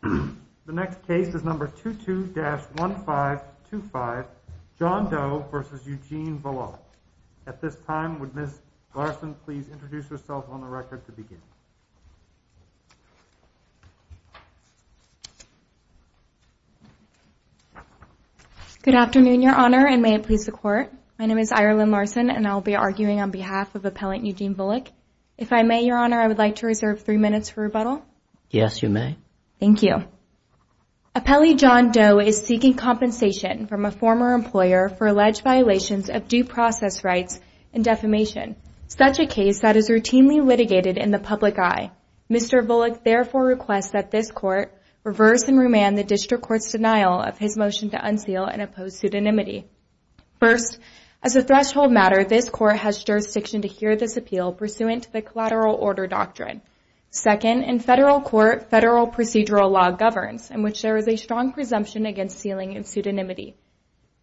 The next case is number 22-1525, John Doe v. Eugene Volokh. At this time, would Ms. Larson please introduce herself on the record to begin? Good afternoon, Your Honor, and may it please the Court. My name is Ireland Larson, and I will be arguing on behalf of Appellant Eugene Volokh. If I may, Your Honor, I would like to reserve three minutes for rebuttal. Yes, you may. Thank you. Appellee John Doe is seeking compensation from a former employer for alleged violations of due process rights and defamation, such a case that is routinely litigated in the public eye. Mr. Volokh therefore requests that this Court reverse and remand the District Court's denial of his motion to unseal and oppose pseudonymity. First, as a threshold matter, this Court has jurisdiction to hear this appeal pursuant to the collateral order doctrine. Second, in federal court, federal procedural law governs, in which there is a strong presumption against sealing and pseudonymity.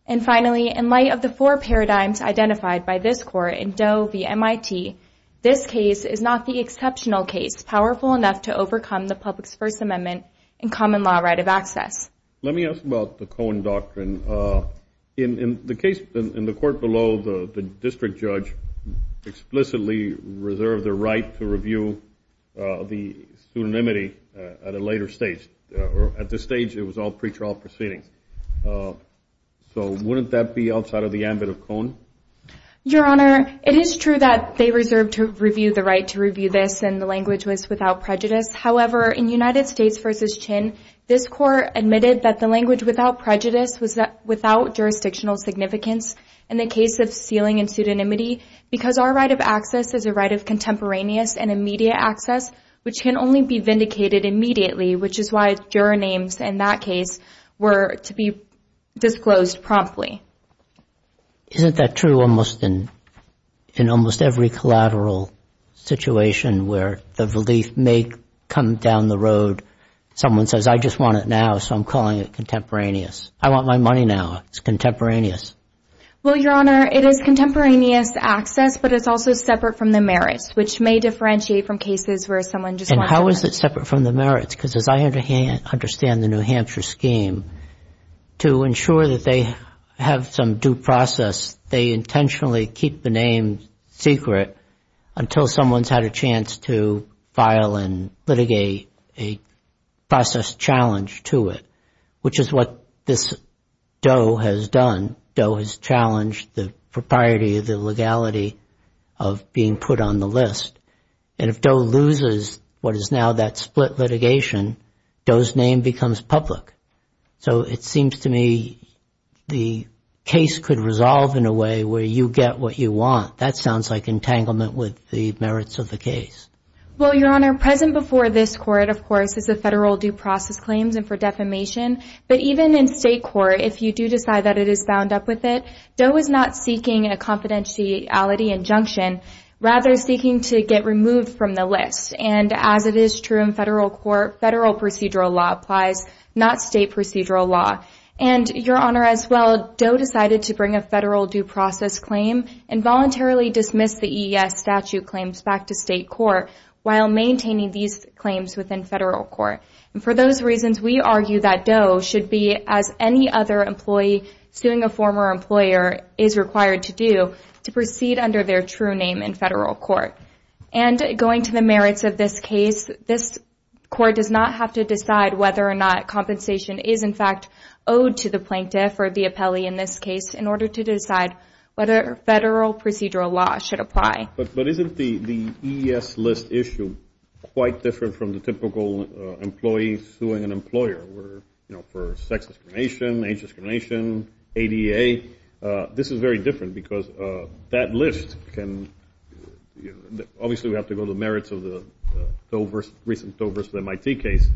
And finally, in light of the four paradigms identified by this Court in Doe v. MIT, this case is not the exceptional case powerful enough to overcome the public's First Amendment and common law right of access. Let me ask about the Cohen doctrine. In the case in the court below, the district judge explicitly reserved the right to review the pseudonymity at a later stage. At this stage, it was all pretrial proceedings. So wouldn't that be outside of the ambit of Cohen? Your Honor, it is true that they reserved to review the right to review this, and the language was without prejudice. However, in United States v. Chin, this Court admitted that the language without prejudice was without jurisdictional significance in the case of sealing and pseudonymity, because our right of access is a right of contemporaneous and immediate access, which can only be vindicated immediately, which is why juror names in that case were to be disclosed promptly. Isn't that true almost in almost every collateral situation where the relief may come down the road, someone says, I just want it now, so I'm calling it contemporaneous. I want my money now. It's contemporaneous. Well, Your Honor, it is contemporaneous access, but it's also separate from the merits, which may differentiate from cases where someone just wants it. And how is it separate from the merits? Because as I understand the New Hampshire scheme, to ensure that they have some due process, they intentionally keep the name secret until someone's had a chance to file and litigate a process challenge to it, which is what this Doe has done. Doe has challenged the propriety, the legality of being put on the list. And if Doe loses what is now that split litigation, Doe's name becomes public. So it seems to me the case could resolve in a way where you get what you want. That sounds like entanglement with the merits of the case. Well, Your Honor, present before this Court, of course, is the federal due process claims and for defamation. But even in state court, if you do decide that it is bound up with it, Doe is not seeking a confidentiality injunction, rather seeking to get removed from the list. And as it is true in federal court, federal procedural law applies, not state procedural law. And, Your Honor, as well, Doe decided to bring a federal due process claim and voluntarily dismiss the EES statute claims back to state court while maintaining these claims within federal court. And for those reasons, we argue that Doe should be, as any other employee suing a former employer is required to do, to proceed under their true name in federal court. And going to the merits of this case, this Court does not have to decide whether or not compensation is, in fact, owed to the plaintiff or the appellee in this case in order to decide whether federal procedural law should apply. But isn't the EES list issue quite different from the typical employee suing an employer? You know, for sex discrimination, age discrimination, ADA, this is very different because that list can, obviously we have to go to the merits of the recent Doe v. MIT case.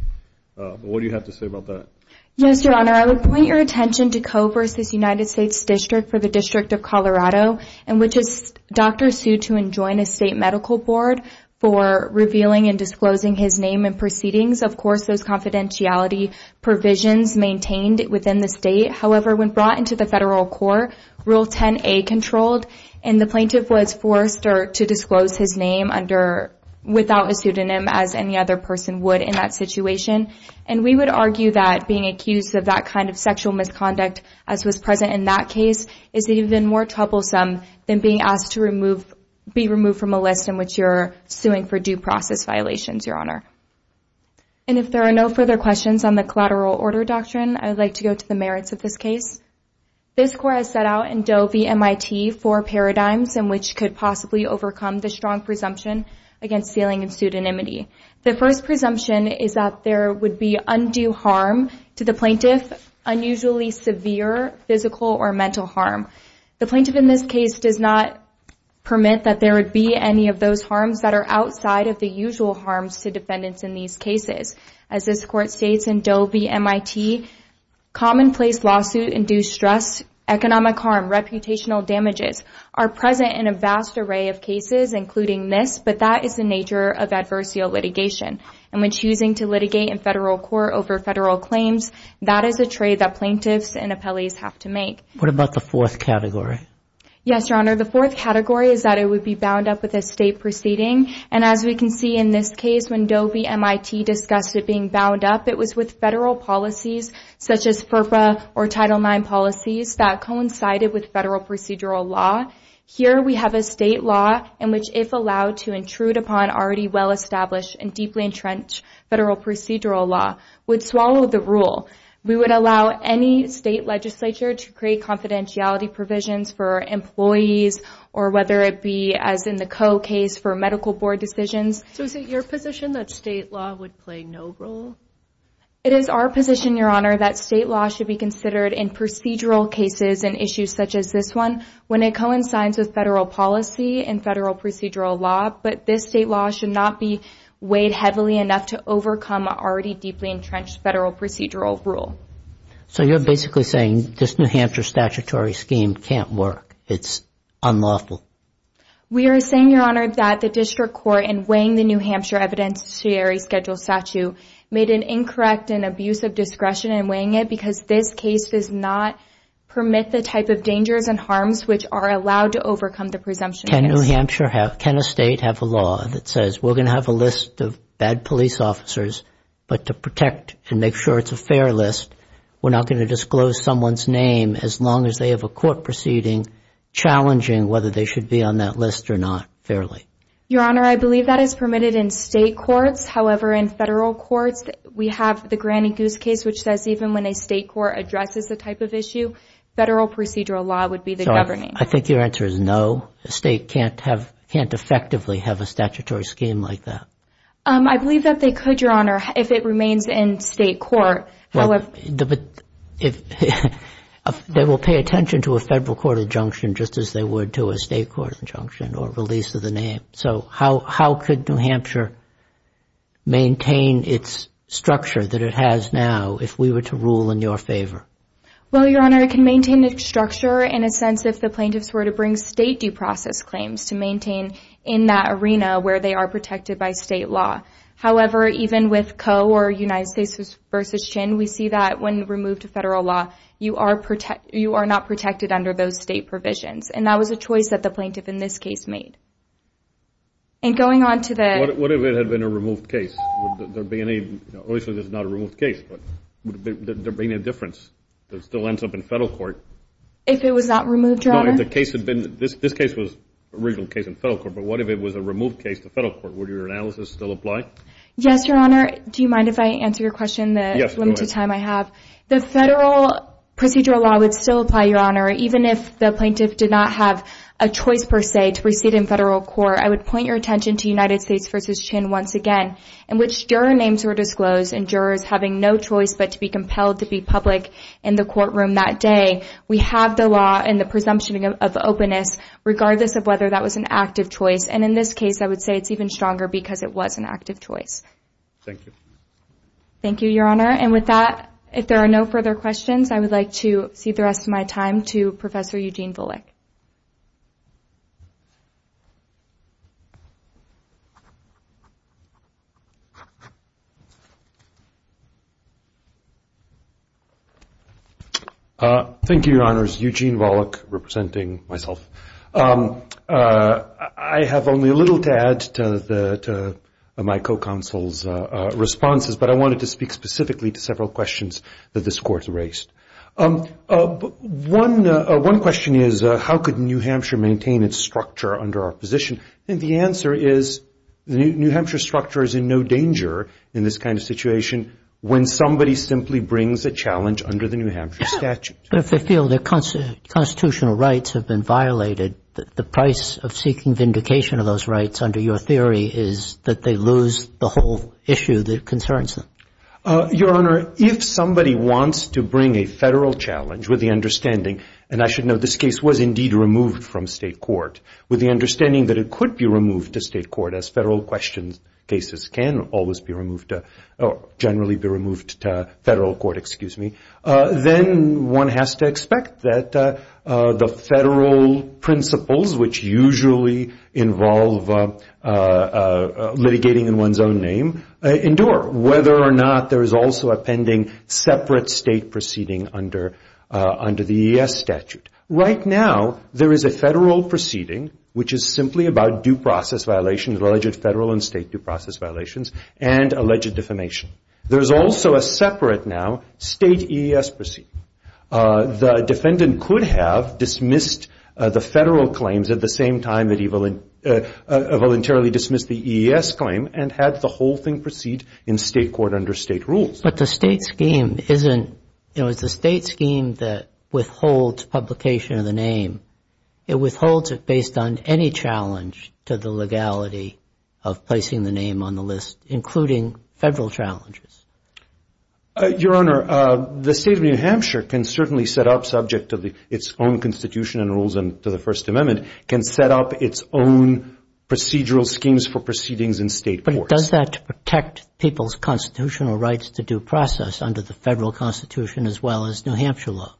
What do you have to say about that? Yes, Your Honor. I would point your attention to Coe v. United States District for the District of Colorado, which is Dr. sued to enjoin a state medical board for revealing and disclosing his name in proceedings. Of course, those confidentiality provisions maintained within the state. However, when brought into the federal court, Rule 10a controlled, and the plaintiff was forced to disclose his name without a pseudonym as any other person would in that situation. And we would argue that being accused of that kind of sexual misconduct, as was present in that case, is even more troublesome than being asked to be removed from a list in which you're suing for due process violations, Your Honor. And if there are no further questions on the collateral order doctrine, I would like to go to the merits of this case. This court has set out in Doe v. MIT four paradigms in which could possibly overcome the strong presumption against sealing and pseudonymity. The first presumption is that there would be undue harm to the plaintiff, unusually severe physical or mental harm. The plaintiff in this case does not permit that there would be any of those harms that are outside of the usual harms to defendants in these cases. As this court states in Doe v. MIT, commonplace lawsuit-induced stress, economic harm, reputational damages are present in a vast array of cases, including this, but that is the nature of adversarial litigation. And when choosing to litigate in federal court over federal claims, that is a trade that plaintiffs and appellees have to make. What about the fourth category? Yes, Your Honor, the fourth category is that it would be bound up with a state proceeding. And as we can see in this case, when Doe v. MIT discussed it being bound up, it was with federal policies such as FERPA or Title IX policies that coincided with federal procedural law. Here we have a state law in which, if allowed to intrude upon already well-established and deeply entrenched federal procedural law, would swallow the rule. We would allow any state legislature to create confidentiality provisions for employees or whether it be, as in the Coe case, for medical board decisions. So is it your position that state law would play no role? It is our position, Your Honor, that state law should be considered in procedural cases and issues such as this one when it coincides with federal policy and federal procedural law. But this state law should not be weighed heavily enough to overcome already deeply entrenched federal procedural rule. So you're basically saying this New Hampshire statutory scheme can't work. It's unlawful. We are saying, Your Honor, that the district court, in weighing the New Hampshire Evidenciary Schedule statute, made an incorrect and abusive discretion in weighing it because this case does not permit the type of dangers and harms which are allowed to overcome the presumption case. Can a state have a law that says, we're going to have a list of bad police officers, but to protect and make sure it's a fair list, we're not going to disclose someone's name as long as they have a court proceeding challenging whether they should be on that list or not fairly? Your Honor, I believe that is permitted in state courts. However, in federal courts, we have the Granny Goose case, which says even when a state court addresses the type of issue, federal procedural law would be the governing. I think your answer is no. A state can't effectively have a statutory scheme like that. I believe that they could, Your Honor, if it remains in state court. They will pay attention to a federal court injunction just as they would to a state court injunction or release of the name. So how could New Hampshire maintain its structure that it has now if we were to rule in your favor? Well, Your Honor, it can maintain its structure in a sense if the plaintiffs were to bring state due process claims to maintain in that arena where they are protected by state law. However, even with Coe or United States v. Chin, we see that when removed to federal law, you are not protected under those state provisions. And that was a choice that the plaintiff in this case made. And going on to the... What if it had been a removed case? Would there be any... Obviously, this is not a removed case, but would there be any difference that still ends up in federal court? If it was not removed, Your Honor? No, if the case had been... This case was an original case in federal court, but what if it was a removed case to federal court? Would your analysis still apply? Yes, Your Honor. Do you mind if I answer your question in the limited time I have? Yes, go ahead. The federal procedural law would still apply, Your Honor, even if the plaintiff did not have a choice, per se, to proceed in federal court. I would point your attention to United States v. Chin once again, in which juror names were disclosed and jurors having no choice but to be compelled to be public in the courtroom that day. We have the law and the presumption of openness, regardless of whether that was an active choice. And in this case, I would say it's even stronger because it was an active choice. Thank you. Thank you, Your Honor. And with that, if there are no further questions, I would like to cede the rest of my time to Professor Eugene Volokh. Thank you, Your Honors. Eugene Volokh, representing myself. I have only a little to add to my co-counsel's responses, but I wanted to speak specifically to several questions that this Court has raised. One question is, how could New Hampshire maintain its structure under our position? And the answer is New Hampshire's structure is in no danger in this kind of situation when somebody simply brings a challenge under the New Hampshire statute. But if they feel their constitutional rights have been violated, the price of seeking vindication of those rights, under your theory, is that they lose the whole issue that concerns them. Your Honor, if somebody wants to bring a Federal challenge with the understanding, and I should note this case was indeed removed from State court, with the understanding that it could be removed to State court, as Federal questions cases can always be removed, generally be removed to Federal court, then one has to expect that the Federal principles, which usually involve litigating in one's own name, endure, whether or not there is also a pending separate State proceeding under the ES statute. Right now, there is a Federal proceeding, which is simply about due process violations, alleged Federal and State due process violations, and alleged defamation. There is also a separate now State EES proceeding. The defendant could have dismissed the Federal claims at the same time that he voluntarily dismissed the EES claim and had the whole thing proceed in State court under State rules. But the State scheme isn't, you know, it's the State scheme that withholds publication of the name. It withholds it based on any challenge to the legality of placing the name on the list, including Federal challenges. Your Honor, the State of New Hampshire can certainly set up, subject to its own constitution and rules and to the First Amendment, can set up its own procedural schemes for proceedings in State courts. But it does that to protect people's constitutional rights to due process under the Federal constitution as well as New Hampshire law.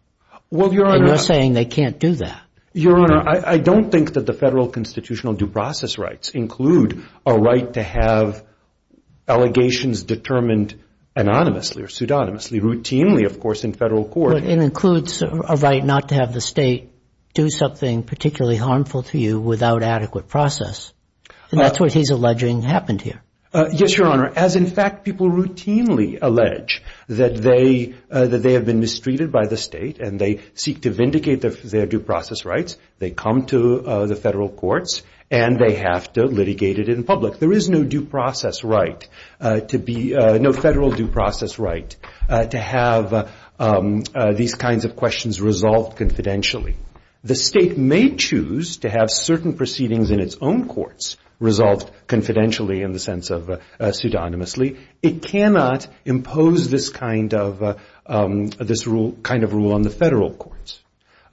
Well, Your Honor. And you're saying they can't do that. Your Honor, I don't think that the Federal constitutional due process rights include a right to have allegations determined anonymously or pseudonymously, routinely, of course, in Federal court. But it includes a right not to have the State do something particularly harmful to you without adequate process. And that's what he's alleging happened here. Yes, Your Honor. As, in fact, people routinely allege that they have been mistreated by the State and they seek to vindicate their due process rights, they come to the Federal courts and they have to litigate it in public. There is no due process right to be no Federal due process right to have these kinds of questions resolved confidentially. The State may choose to have certain proceedings in its own courts resolved confidentially in the sense of pseudonymously. It cannot impose this kind of rule on the Federal courts.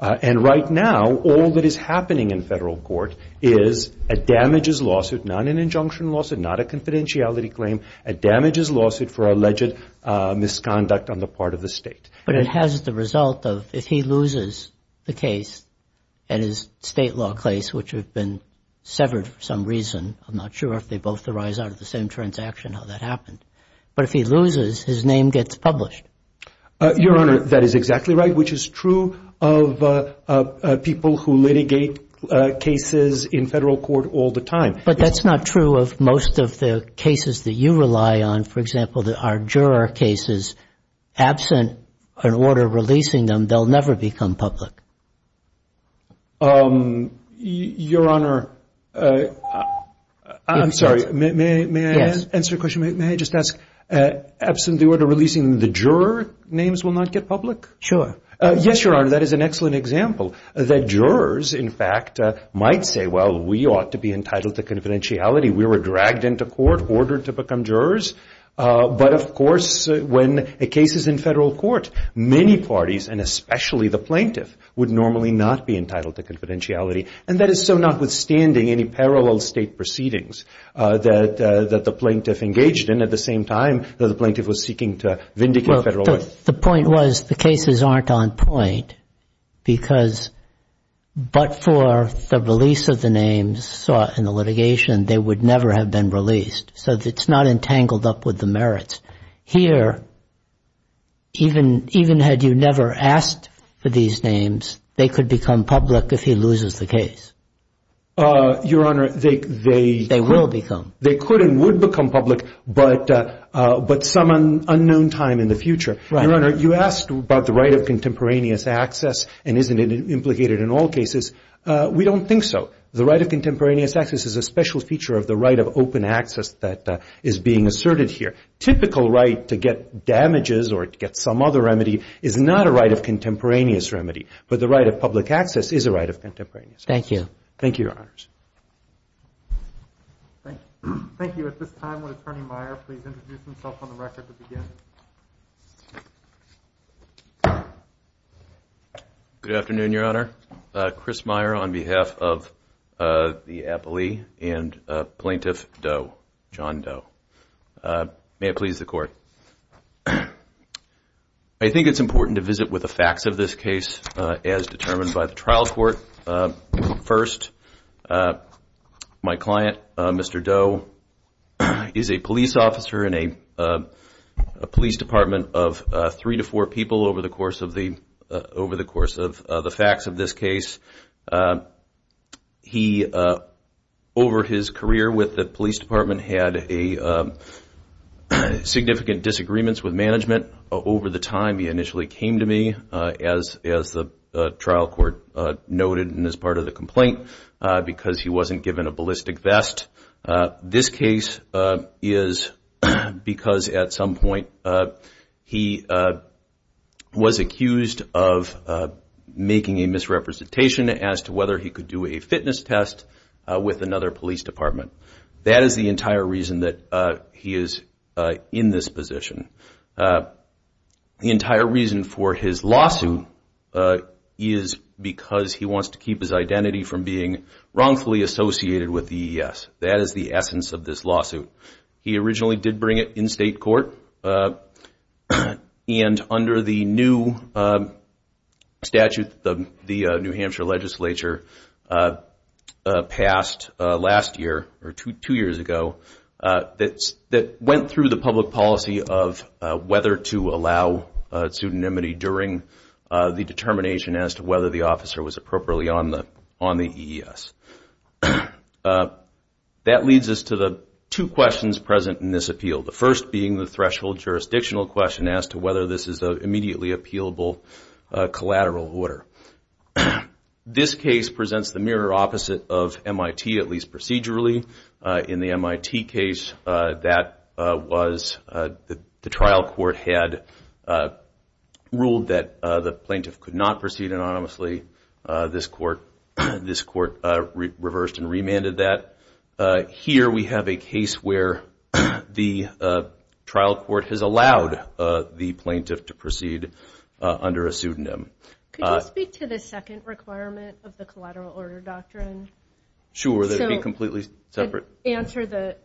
And right now, all that is happening in Federal court is a damages lawsuit, not an injunction lawsuit, not a confidentiality claim, a damages lawsuit for alleged misconduct on the part of the State. But it has the result of if he loses the case and his State law case, which have been severed for some reason, I'm not sure if they both arise out of the same transaction, how that happened. But if he loses, his name gets published. Your Honor, that is exactly right, which is true of people who litigate cases in Federal court all the time. But that's not true of most of the cases that you rely on. For example, there are juror cases. Absent an order releasing them, they'll never become public. Your Honor, I'm sorry. May I answer your question? May I just ask, absent the order releasing them, the juror names will not get public? Sure. Yes, Your Honor. That is an excellent example that jurors, in fact, might say, well, we ought to be entitled to confidentiality. We were dragged into court, ordered to become jurors. But, of course, when a case is in Federal court, many parties, and especially the plaintiff, would normally not be entitled to confidentiality. And that is so notwithstanding any parallel State proceedings that the plaintiff engaged in at the same time that the plaintiff was seeking to vindicate Federal law. But the point was the cases aren't on point, because but for the release of the names sought in the litigation, they would never have been released. So it's not entangled up with the merits. Here, even had you never asked for these names, they could become public if he loses the case. Your Honor, they could and would become public, but some unknown time in the future. Your Honor, you asked about the right of contemporaneous access and isn't it implicated in all cases. We don't think so. The right of contemporaneous access is a special feature of the right of open access that is being asserted here. Typical right to get damages or to get some other remedy is not a right of contemporaneous remedy. But the right of public access is a right of contemporaneous access. Thank you. Thank you, Your Honors. Thank you. Thank you. At this time, would Attorney Meyer please introduce himself on the record to begin? Good afternoon, Your Honor. Chris Meyer on behalf of the appellee and Plaintiff Doe, John Doe. May it please the Court. I think it's important to visit with the facts of this case as determined by the trial court. First, my client, Mr. Doe, is a police officer in a police department of three to four people over the course of the facts of this case. He, over his career with the police department, had significant disagreements with management. Over the time, he initially came to me, as the trial court noted in this part of the complaint, because he wasn't given a ballistic vest. This case is because at some point he was accused of making a misrepresentation as to whether he could do a fitness test with another police department. That is the entire reason that he is in this position. The entire reason for his lawsuit is because he wants to keep his identity from being wrongfully associated with the EES. That is the essence of this lawsuit. He originally did bring it in state court, and under the new statute that the New Hampshire legislature passed last year, or two years ago, that went through the public policy of whether to allow pseudonymity during the determination as to whether the officer was appropriately on the EES. That leads us to the two questions present in this appeal. The first being the threshold jurisdictional question as to whether this is an immediately appealable collateral order. This case presents the mirror opposite of MIT, at least procedurally. In the MIT case, the trial court had ruled that the plaintiff could not proceed anonymously. This court reversed and remanded that. Here we have a case where the trial court has allowed the plaintiff to proceed under a pseudonym. Could you speak to the second requirement of the collateral order doctrine? Sure, that would be completely separate. Answer the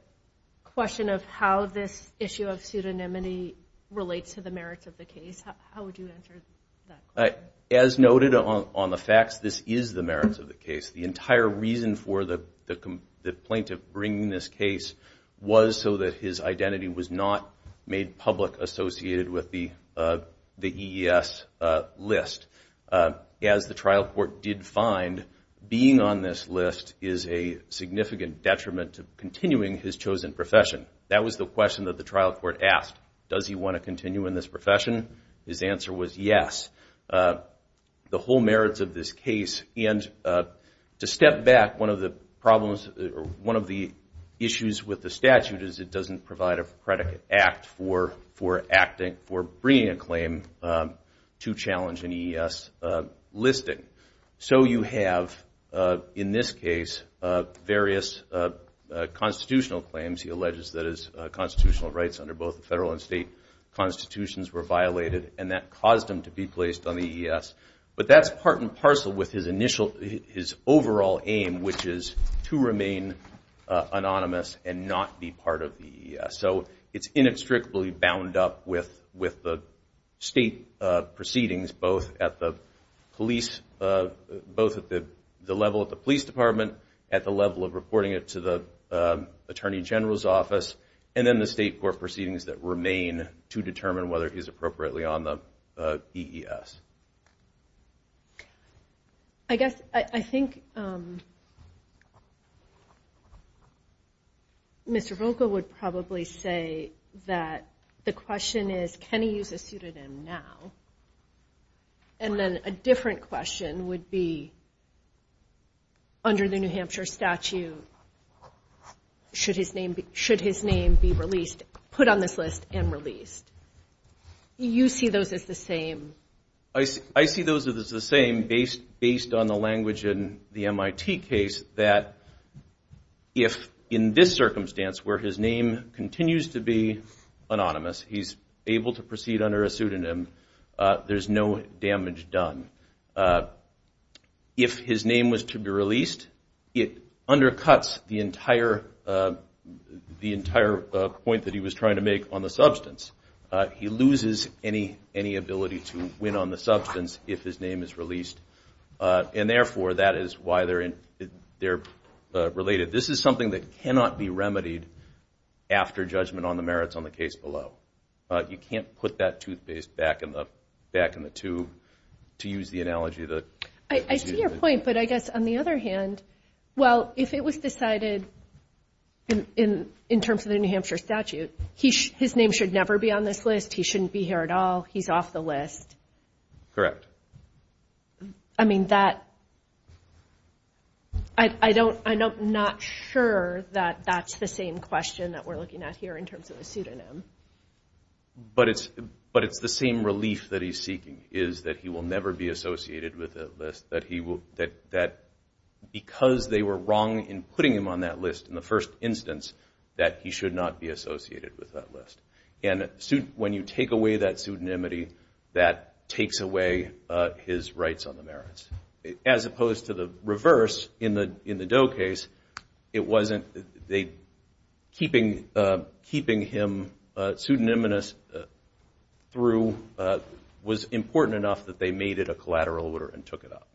question of how this issue of pseudonymity relates to the merits of the case. How would you answer that question? As noted on the facts, this is the merits of the case. The entire reason for the plaintiff bringing this case was so that his identity was not made public associated with the EES list. As the trial court did find, being on this list is a significant detriment to continuing his chosen profession. That was the question that the trial court asked. Does he want to continue in this profession? His answer was yes. To step back, one of the issues with the statute is it doesn't provide a predicate act for bringing a claim to challenge an EES listing. You have, in this case, various constitutional claims. He alleges that his constitutional rights under both the federal and state constitutions were violated. That caused him to be placed on the EES. But that's part and parcel with his overall aim, which is to remain anonymous and not be part of the EES. It's inextricably bound up with the state proceedings, both at the level of the police department, at the level of reporting it to the attorney general's office, and then the state court proceedings that remain to determine whether he's appropriately on the EES. I guess I think Mr. Volkow would probably say that the question is can he use a pseudonym now? And then a different question would be under the New Hampshire statute, should his name be released, put on this list and released? Do you see those as the same? I see those as the same based on the language in the MIT case that if, in this circumstance, where his name continues to be anonymous, he's able to proceed under a pseudonym, there's no damage done. If his name was to be released, it undercuts the entire point that he was trying to make on the substance. He loses any ability to win on the substance if his name is released. And therefore, that is why they're related. This is something that cannot be remedied after judgment on the merits on the case below. You can't put that toothpaste back in the tube, to use the analogy. I see your point, but I guess on the other hand, well, if it was decided in terms of the New Hampshire statute, his name should never be on this list, he shouldn't be here at all, he's off the list. Correct. I mean, I'm not sure that that's the same question that we're looking at here in terms of a pseudonym. But it's the same relief that he's seeking, is that he will never be associated with that list, that because they were wrong in putting him on that list in the first instance, that he should not be associated with that list. And when you take away that pseudonymity, that takes away his rights on the merits. As opposed to the reverse, in the Doe case, it wasn't keeping him pseudonymous through, was important enough that they made it a collateral order and took it off.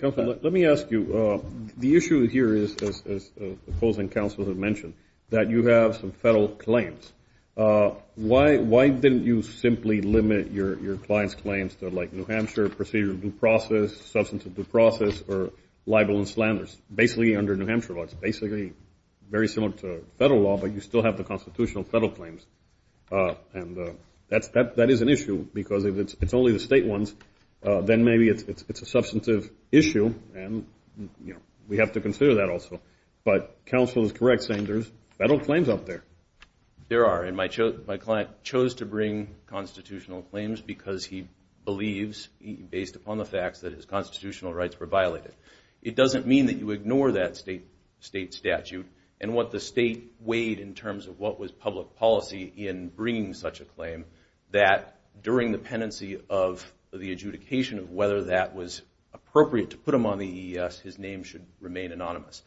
Counsel, let me ask you, the issue here is, as the opposing counsels have mentioned, that you have some federal claims. Why didn't you simply limit your client's claims to like New Hampshire procedure due process, substance of due process, or libel and slanders? Basically, under New Hampshire law, it's basically very similar to federal law, but you still have the constitutional federal claims. And that is an issue, because if it's only the state ones, then maybe it's a substantive issue, and we have to consider that also. But counsel is correct, saying there's federal claims out there. There are, and my client chose to bring constitutional claims because he believes, based upon the facts, that his constitutional rights were violated. It doesn't mean that you ignore that state statute and what the state weighed in terms of what was public policy in bringing such a claim, that during the pendency of the adjudication of whether that was appropriate to put him on the EES, his name should remain anonymous.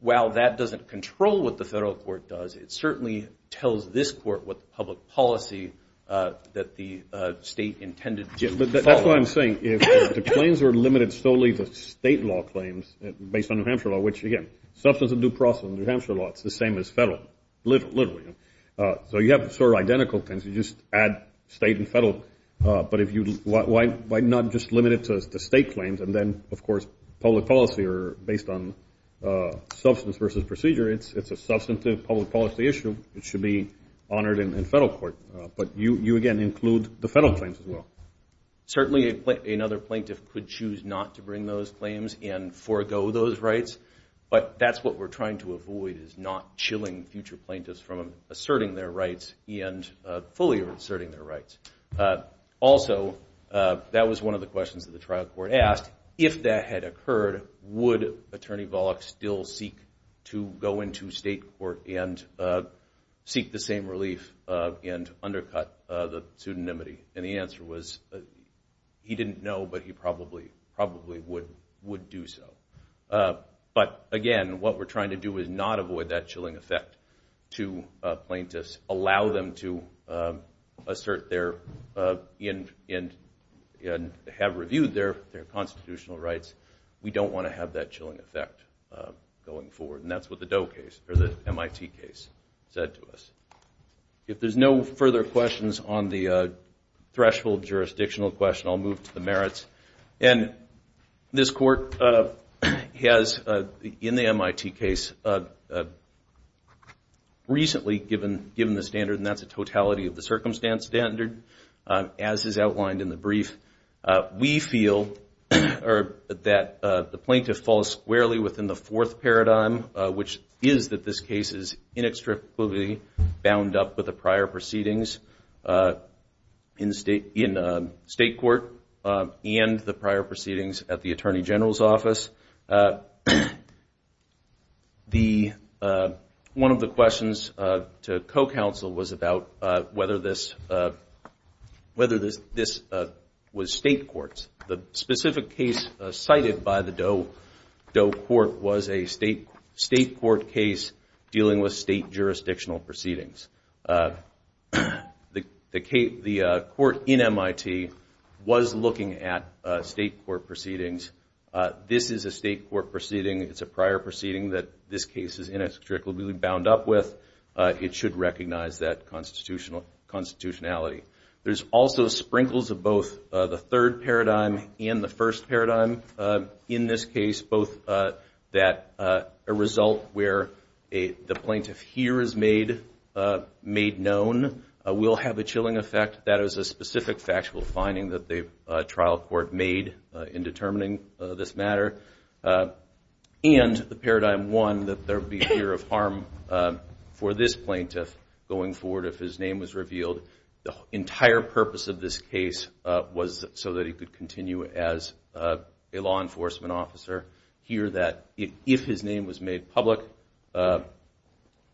While that doesn't control what the federal court does, it certainly tells this court what the public policy that the state intended to follow. That's what I'm saying. If the claims are limited solely to state law claims based on New Hampshire law, which, again, substance of due process in New Hampshire law, it's the same as federal, literally. So you have sort of identical things. You just add state and federal. But why not just limit it to state claims, and then, of course, public policy are based on substance versus procedure. It's a substantive public policy issue. It should be honored in federal court. But you, again, include the federal claims as well. Certainly another plaintiff could choose not to bring those claims and forego those rights, but that's what we're trying to avoid is not chilling future plaintiffs from asserting their rights and fully asserting their rights. Also, that was one of the questions that the trial court asked, if that had occurred, would Attorney Volokh still seek to go into state court and seek the same relief and undercut the pseudonymity? And the answer was he didn't know, but he probably would do so. But, again, what we're trying to do is not avoid that chilling effect to plaintiffs, allow them to assert their and have reviewed their constitutional rights. We don't want to have that chilling effect going forward, and that's what the Doe case or the MIT case said to us. If there's no further questions on the threshold jurisdictional question, I'll move to the merits. This court has, in the MIT case, recently given the standard, and that's a totality of the circumstance standard, as is outlined in the brief. We feel that the plaintiff falls squarely within the fourth paradigm, which is that this case is inextricably bound up with the prior proceedings in state court and the prior proceedings at the Attorney General's office. One of the questions to co-counsel was about whether this was state courts. The specific case cited by the Doe court was a state court case dealing with state jurisdictional proceedings. The court in MIT was looking at state court proceedings. This is a state court proceeding. It's a prior proceeding that this case is inextricably bound up with. It should recognize that constitutionality. There's also sprinkles of both the third paradigm and the first paradigm in this case, both that a result where the plaintiff here is made known will have a chilling effect. That is a specific factual finding that the trial court made in determining this matter, and the paradigm one, that there would be fear of harm for this plaintiff going forward if his name was revealed. The entire purpose of this case was so that he could continue as a law enforcement officer here, that if his name was made public,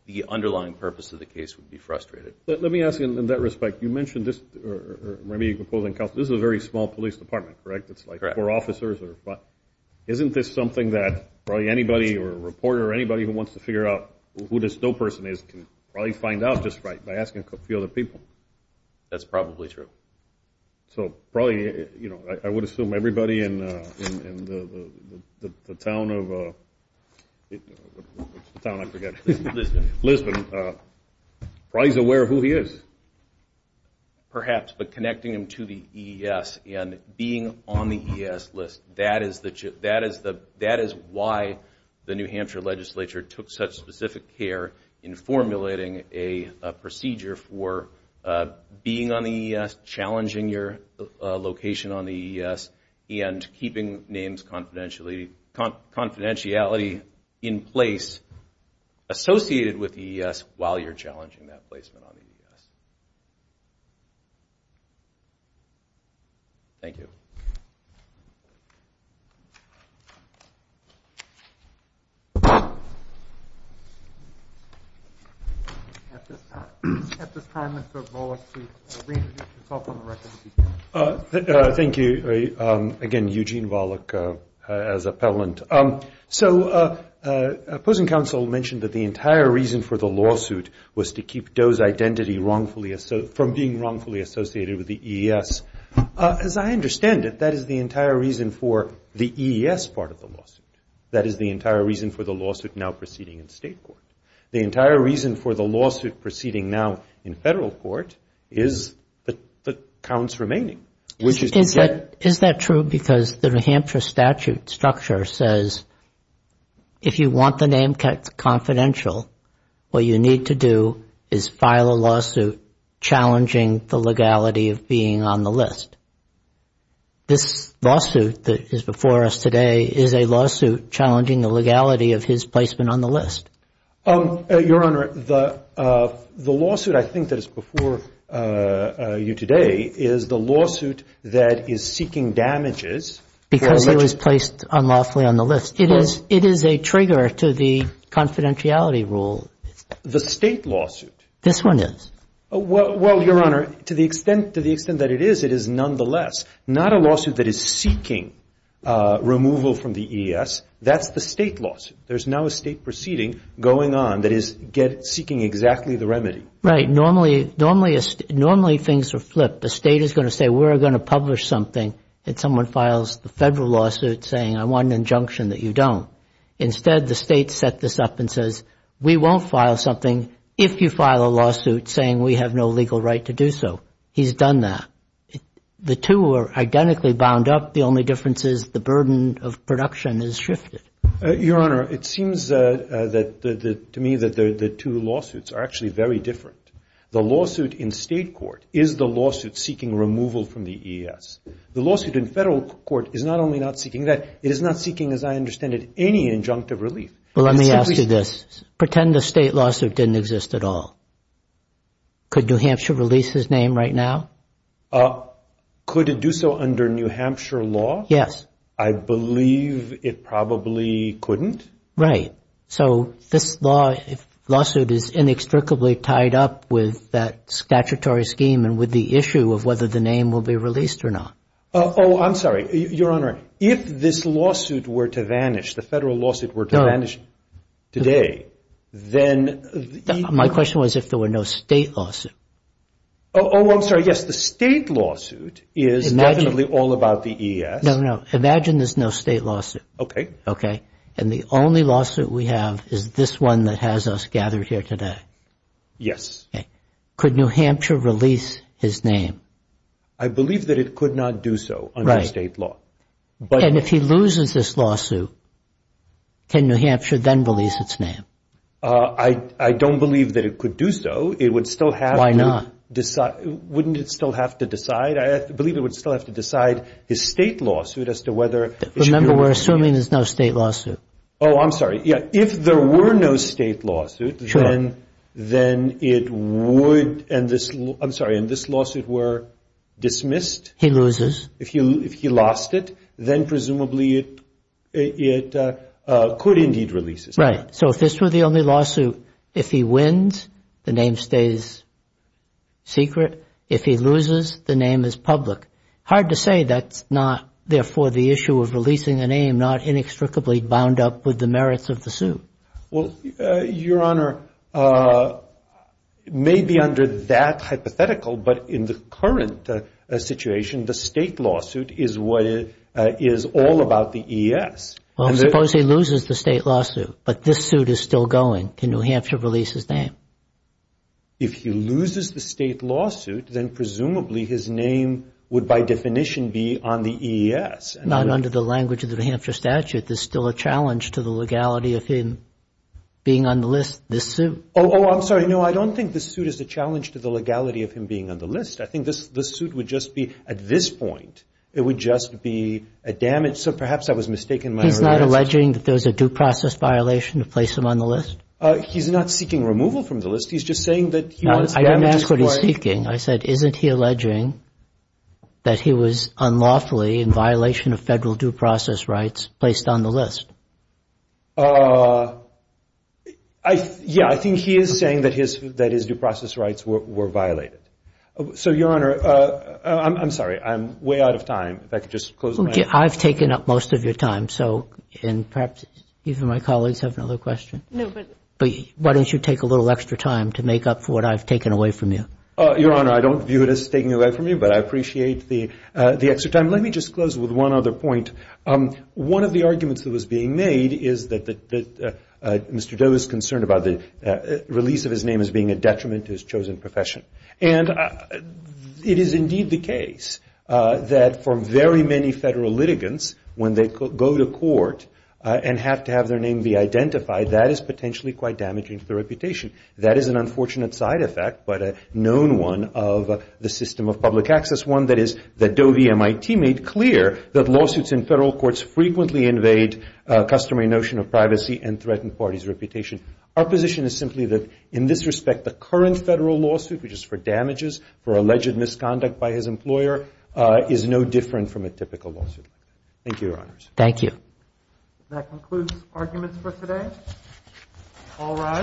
the underlying purpose of the case would be frustrated. Let me ask you in that respect. You mentioned this, or maybe you can pull in counsel. This is a very small police department, correct? Correct. It's like four officers. Isn't this something that probably anybody or a reporter or anybody who wants to figure out who this Doe person is can probably find out just right by asking a few other people? That's probably true. So probably, you know, I would assume everybody in the town of, what's the town? I forget. Lisbon. Lisbon. Probably is aware of who he is. Perhaps, but connecting him to the EES and being on the EES list, that is why the New Hampshire legislature took such specific care in formulating a procedure for being on the EES, challenging your location on the EES, and keeping names confidentiality in place associated with the EES while you're challenging that placement on the EES. Thank you. At this time, Mr. Volokh, please reintroduce yourself on the record. Thank you. Again, Eugene Volokh as appellant. So opposing counsel mentioned that the entire reason for the lawsuit was to keep Doe's identity right. From being wrongfully associated with the EES. As I understand it, that is the entire reason for the EES part of the lawsuit. That is the entire reason for the lawsuit now proceeding in state court. The entire reason for the lawsuit proceeding now in federal court is the counts remaining. Is that true because the New Hampshire statute structure says if you want the name confidential, what you need to do is file a lawsuit challenging the legality of being on the list. This lawsuit that is before us today is a lawsuit challenging the legality of his placement on the list. Your Honor, the lawsuit I think that is before you today is the lawsuit that is seeking damages. Because he was placed unlawfully on the list. It is a trigger to the confidentiality rule. The state lawsuit. This one is. Well, Your Honor, to the extent that it is, it is nonetheless not a lawsuit that is seeking removal from the EES. That's the state lawsuit. There is now a state proceeding going on that is seeking exactly the remedy. Right. Normally things are flipped. The state is going to say we're going to publish something if someone files the federal lawsuit saying I want an injunction that you don't. Instead, the state set this up and says we won't file something if you file a lawsuit saying we have no legal right to do so. He's done that. The two are identically bound up. The only difference is the burden of production has shifted. Your Honor, it seems to me that the two lawsuits are actually very different. The lawsuit in state court is the lawsuit seeking removal from the EES. The lawsuit in federal court is not only not seeking that, it is not seeking, as I understand it, any injunctive relief. Well, let me ask you this. Pretend the state lawsuit didn't exist at all. Could New Hampshire release his name right now? Could it do so under New Hampshire law? Yes. I believe it probably couldn't. Right. So this lawsuit is inextricably tied up with that statutory scheme and with the issue of whether the name will be released or not. Oh, I'm sorry. Your Honor, if this lawsuit were to vanish, the federal lawsuit were to vanish today, then... My question was if there were no state lawsuit. Oh, I'm sorry. Yes, the state lawsuit is definitely all about the EES. No, no. Imagine there's no state lawsuit. Okay. Okay. And the only lawsuit we have is this one that has us gathered here today. Yes. Okay. Could New Hampshire release his name? I believe that it could not do so under state law. Right. And if he loses this lawsuit, can New Hampshire then release its name? I don't believe that it could do so. It would still have to... Why not? Wouldn't it still have to decide? I believe it would still have to decide his state lawsuit as to whether... Remember, we're assuming there's no state lawsuit. Oh, I'm sorry. Yes. If there were no state lawsuit, then it would... I'm sorry. And this lawsuit were dismissed? He loses. If he lost it, then presumably it could indeed release his name. Right. So if this were the only lawsuit, if he wins, the name stays secret. If he loses, the name is public. Hard to say that's not, therefore, the issue of releasing a name not inextricably bound up with the merits of the suit. Well, Your Honor, maybe under that hypothetical, but in the current situation, the state lawsuit is all about the E.S. Well, suppose he loses the state lawsuit, but this suit is still going. Can New Hampshire release his name? If he loses the state lawsuit, then presumably his name would, by definition, be on the E.S. Not under the language of the New Hampshire statute. There's still a challenge to the legality of him being on the list, this suit. Oh, I'm sorry. No, I don't think this suit is a challenge to the legality of him being on the list. I think this suit would just be, at this point, it would just be a damage. So perhaps I was mistaken in my earlier answer. He's not alleging that there's a due process violation to place him on the list? He's not seeking removal from the list. He's just saying that he wants damages. I didn't ask what he's seeking. I said, isn't he alleging that he was unlawfully in violation of federal due process rights placed on the list? Yeah, I think he is saying that his due process rights were violated. So, Your Honor, I'm sorry, I'm way out of time. If I could just close my eyes. I've taken up most of your time, so perhaps even my colleagues have another question. No, but why don't you take a little extra time to make up for what I've taken away from you? Your Honor, I don't view it as taking away from you, but I appreciate the extra time. Let me just close with one other point. One of the arguments that was being made is that Mr. Doe is concerned about the release of his name as being a detriment to his chosen profession. And it is indeed the case that for very many federal litigants, when they go to court and have to have their name be identified, that is potentially quite damaging to their reputation. That is an unfortunate side effect, but a known one of the system of public access, one that is that Doe v. MIT made clear that lawsuits in federal courts frequently invade customary notion of privacy and threaten parties' reputation. Our position is simply that in this respect, the current federal lawsuit, which is for damages for alleged misconduct by his employer, is no different from a typical lawsuit. Thank you, Your Honors. Thank you. That concludes arguments for today. All rise.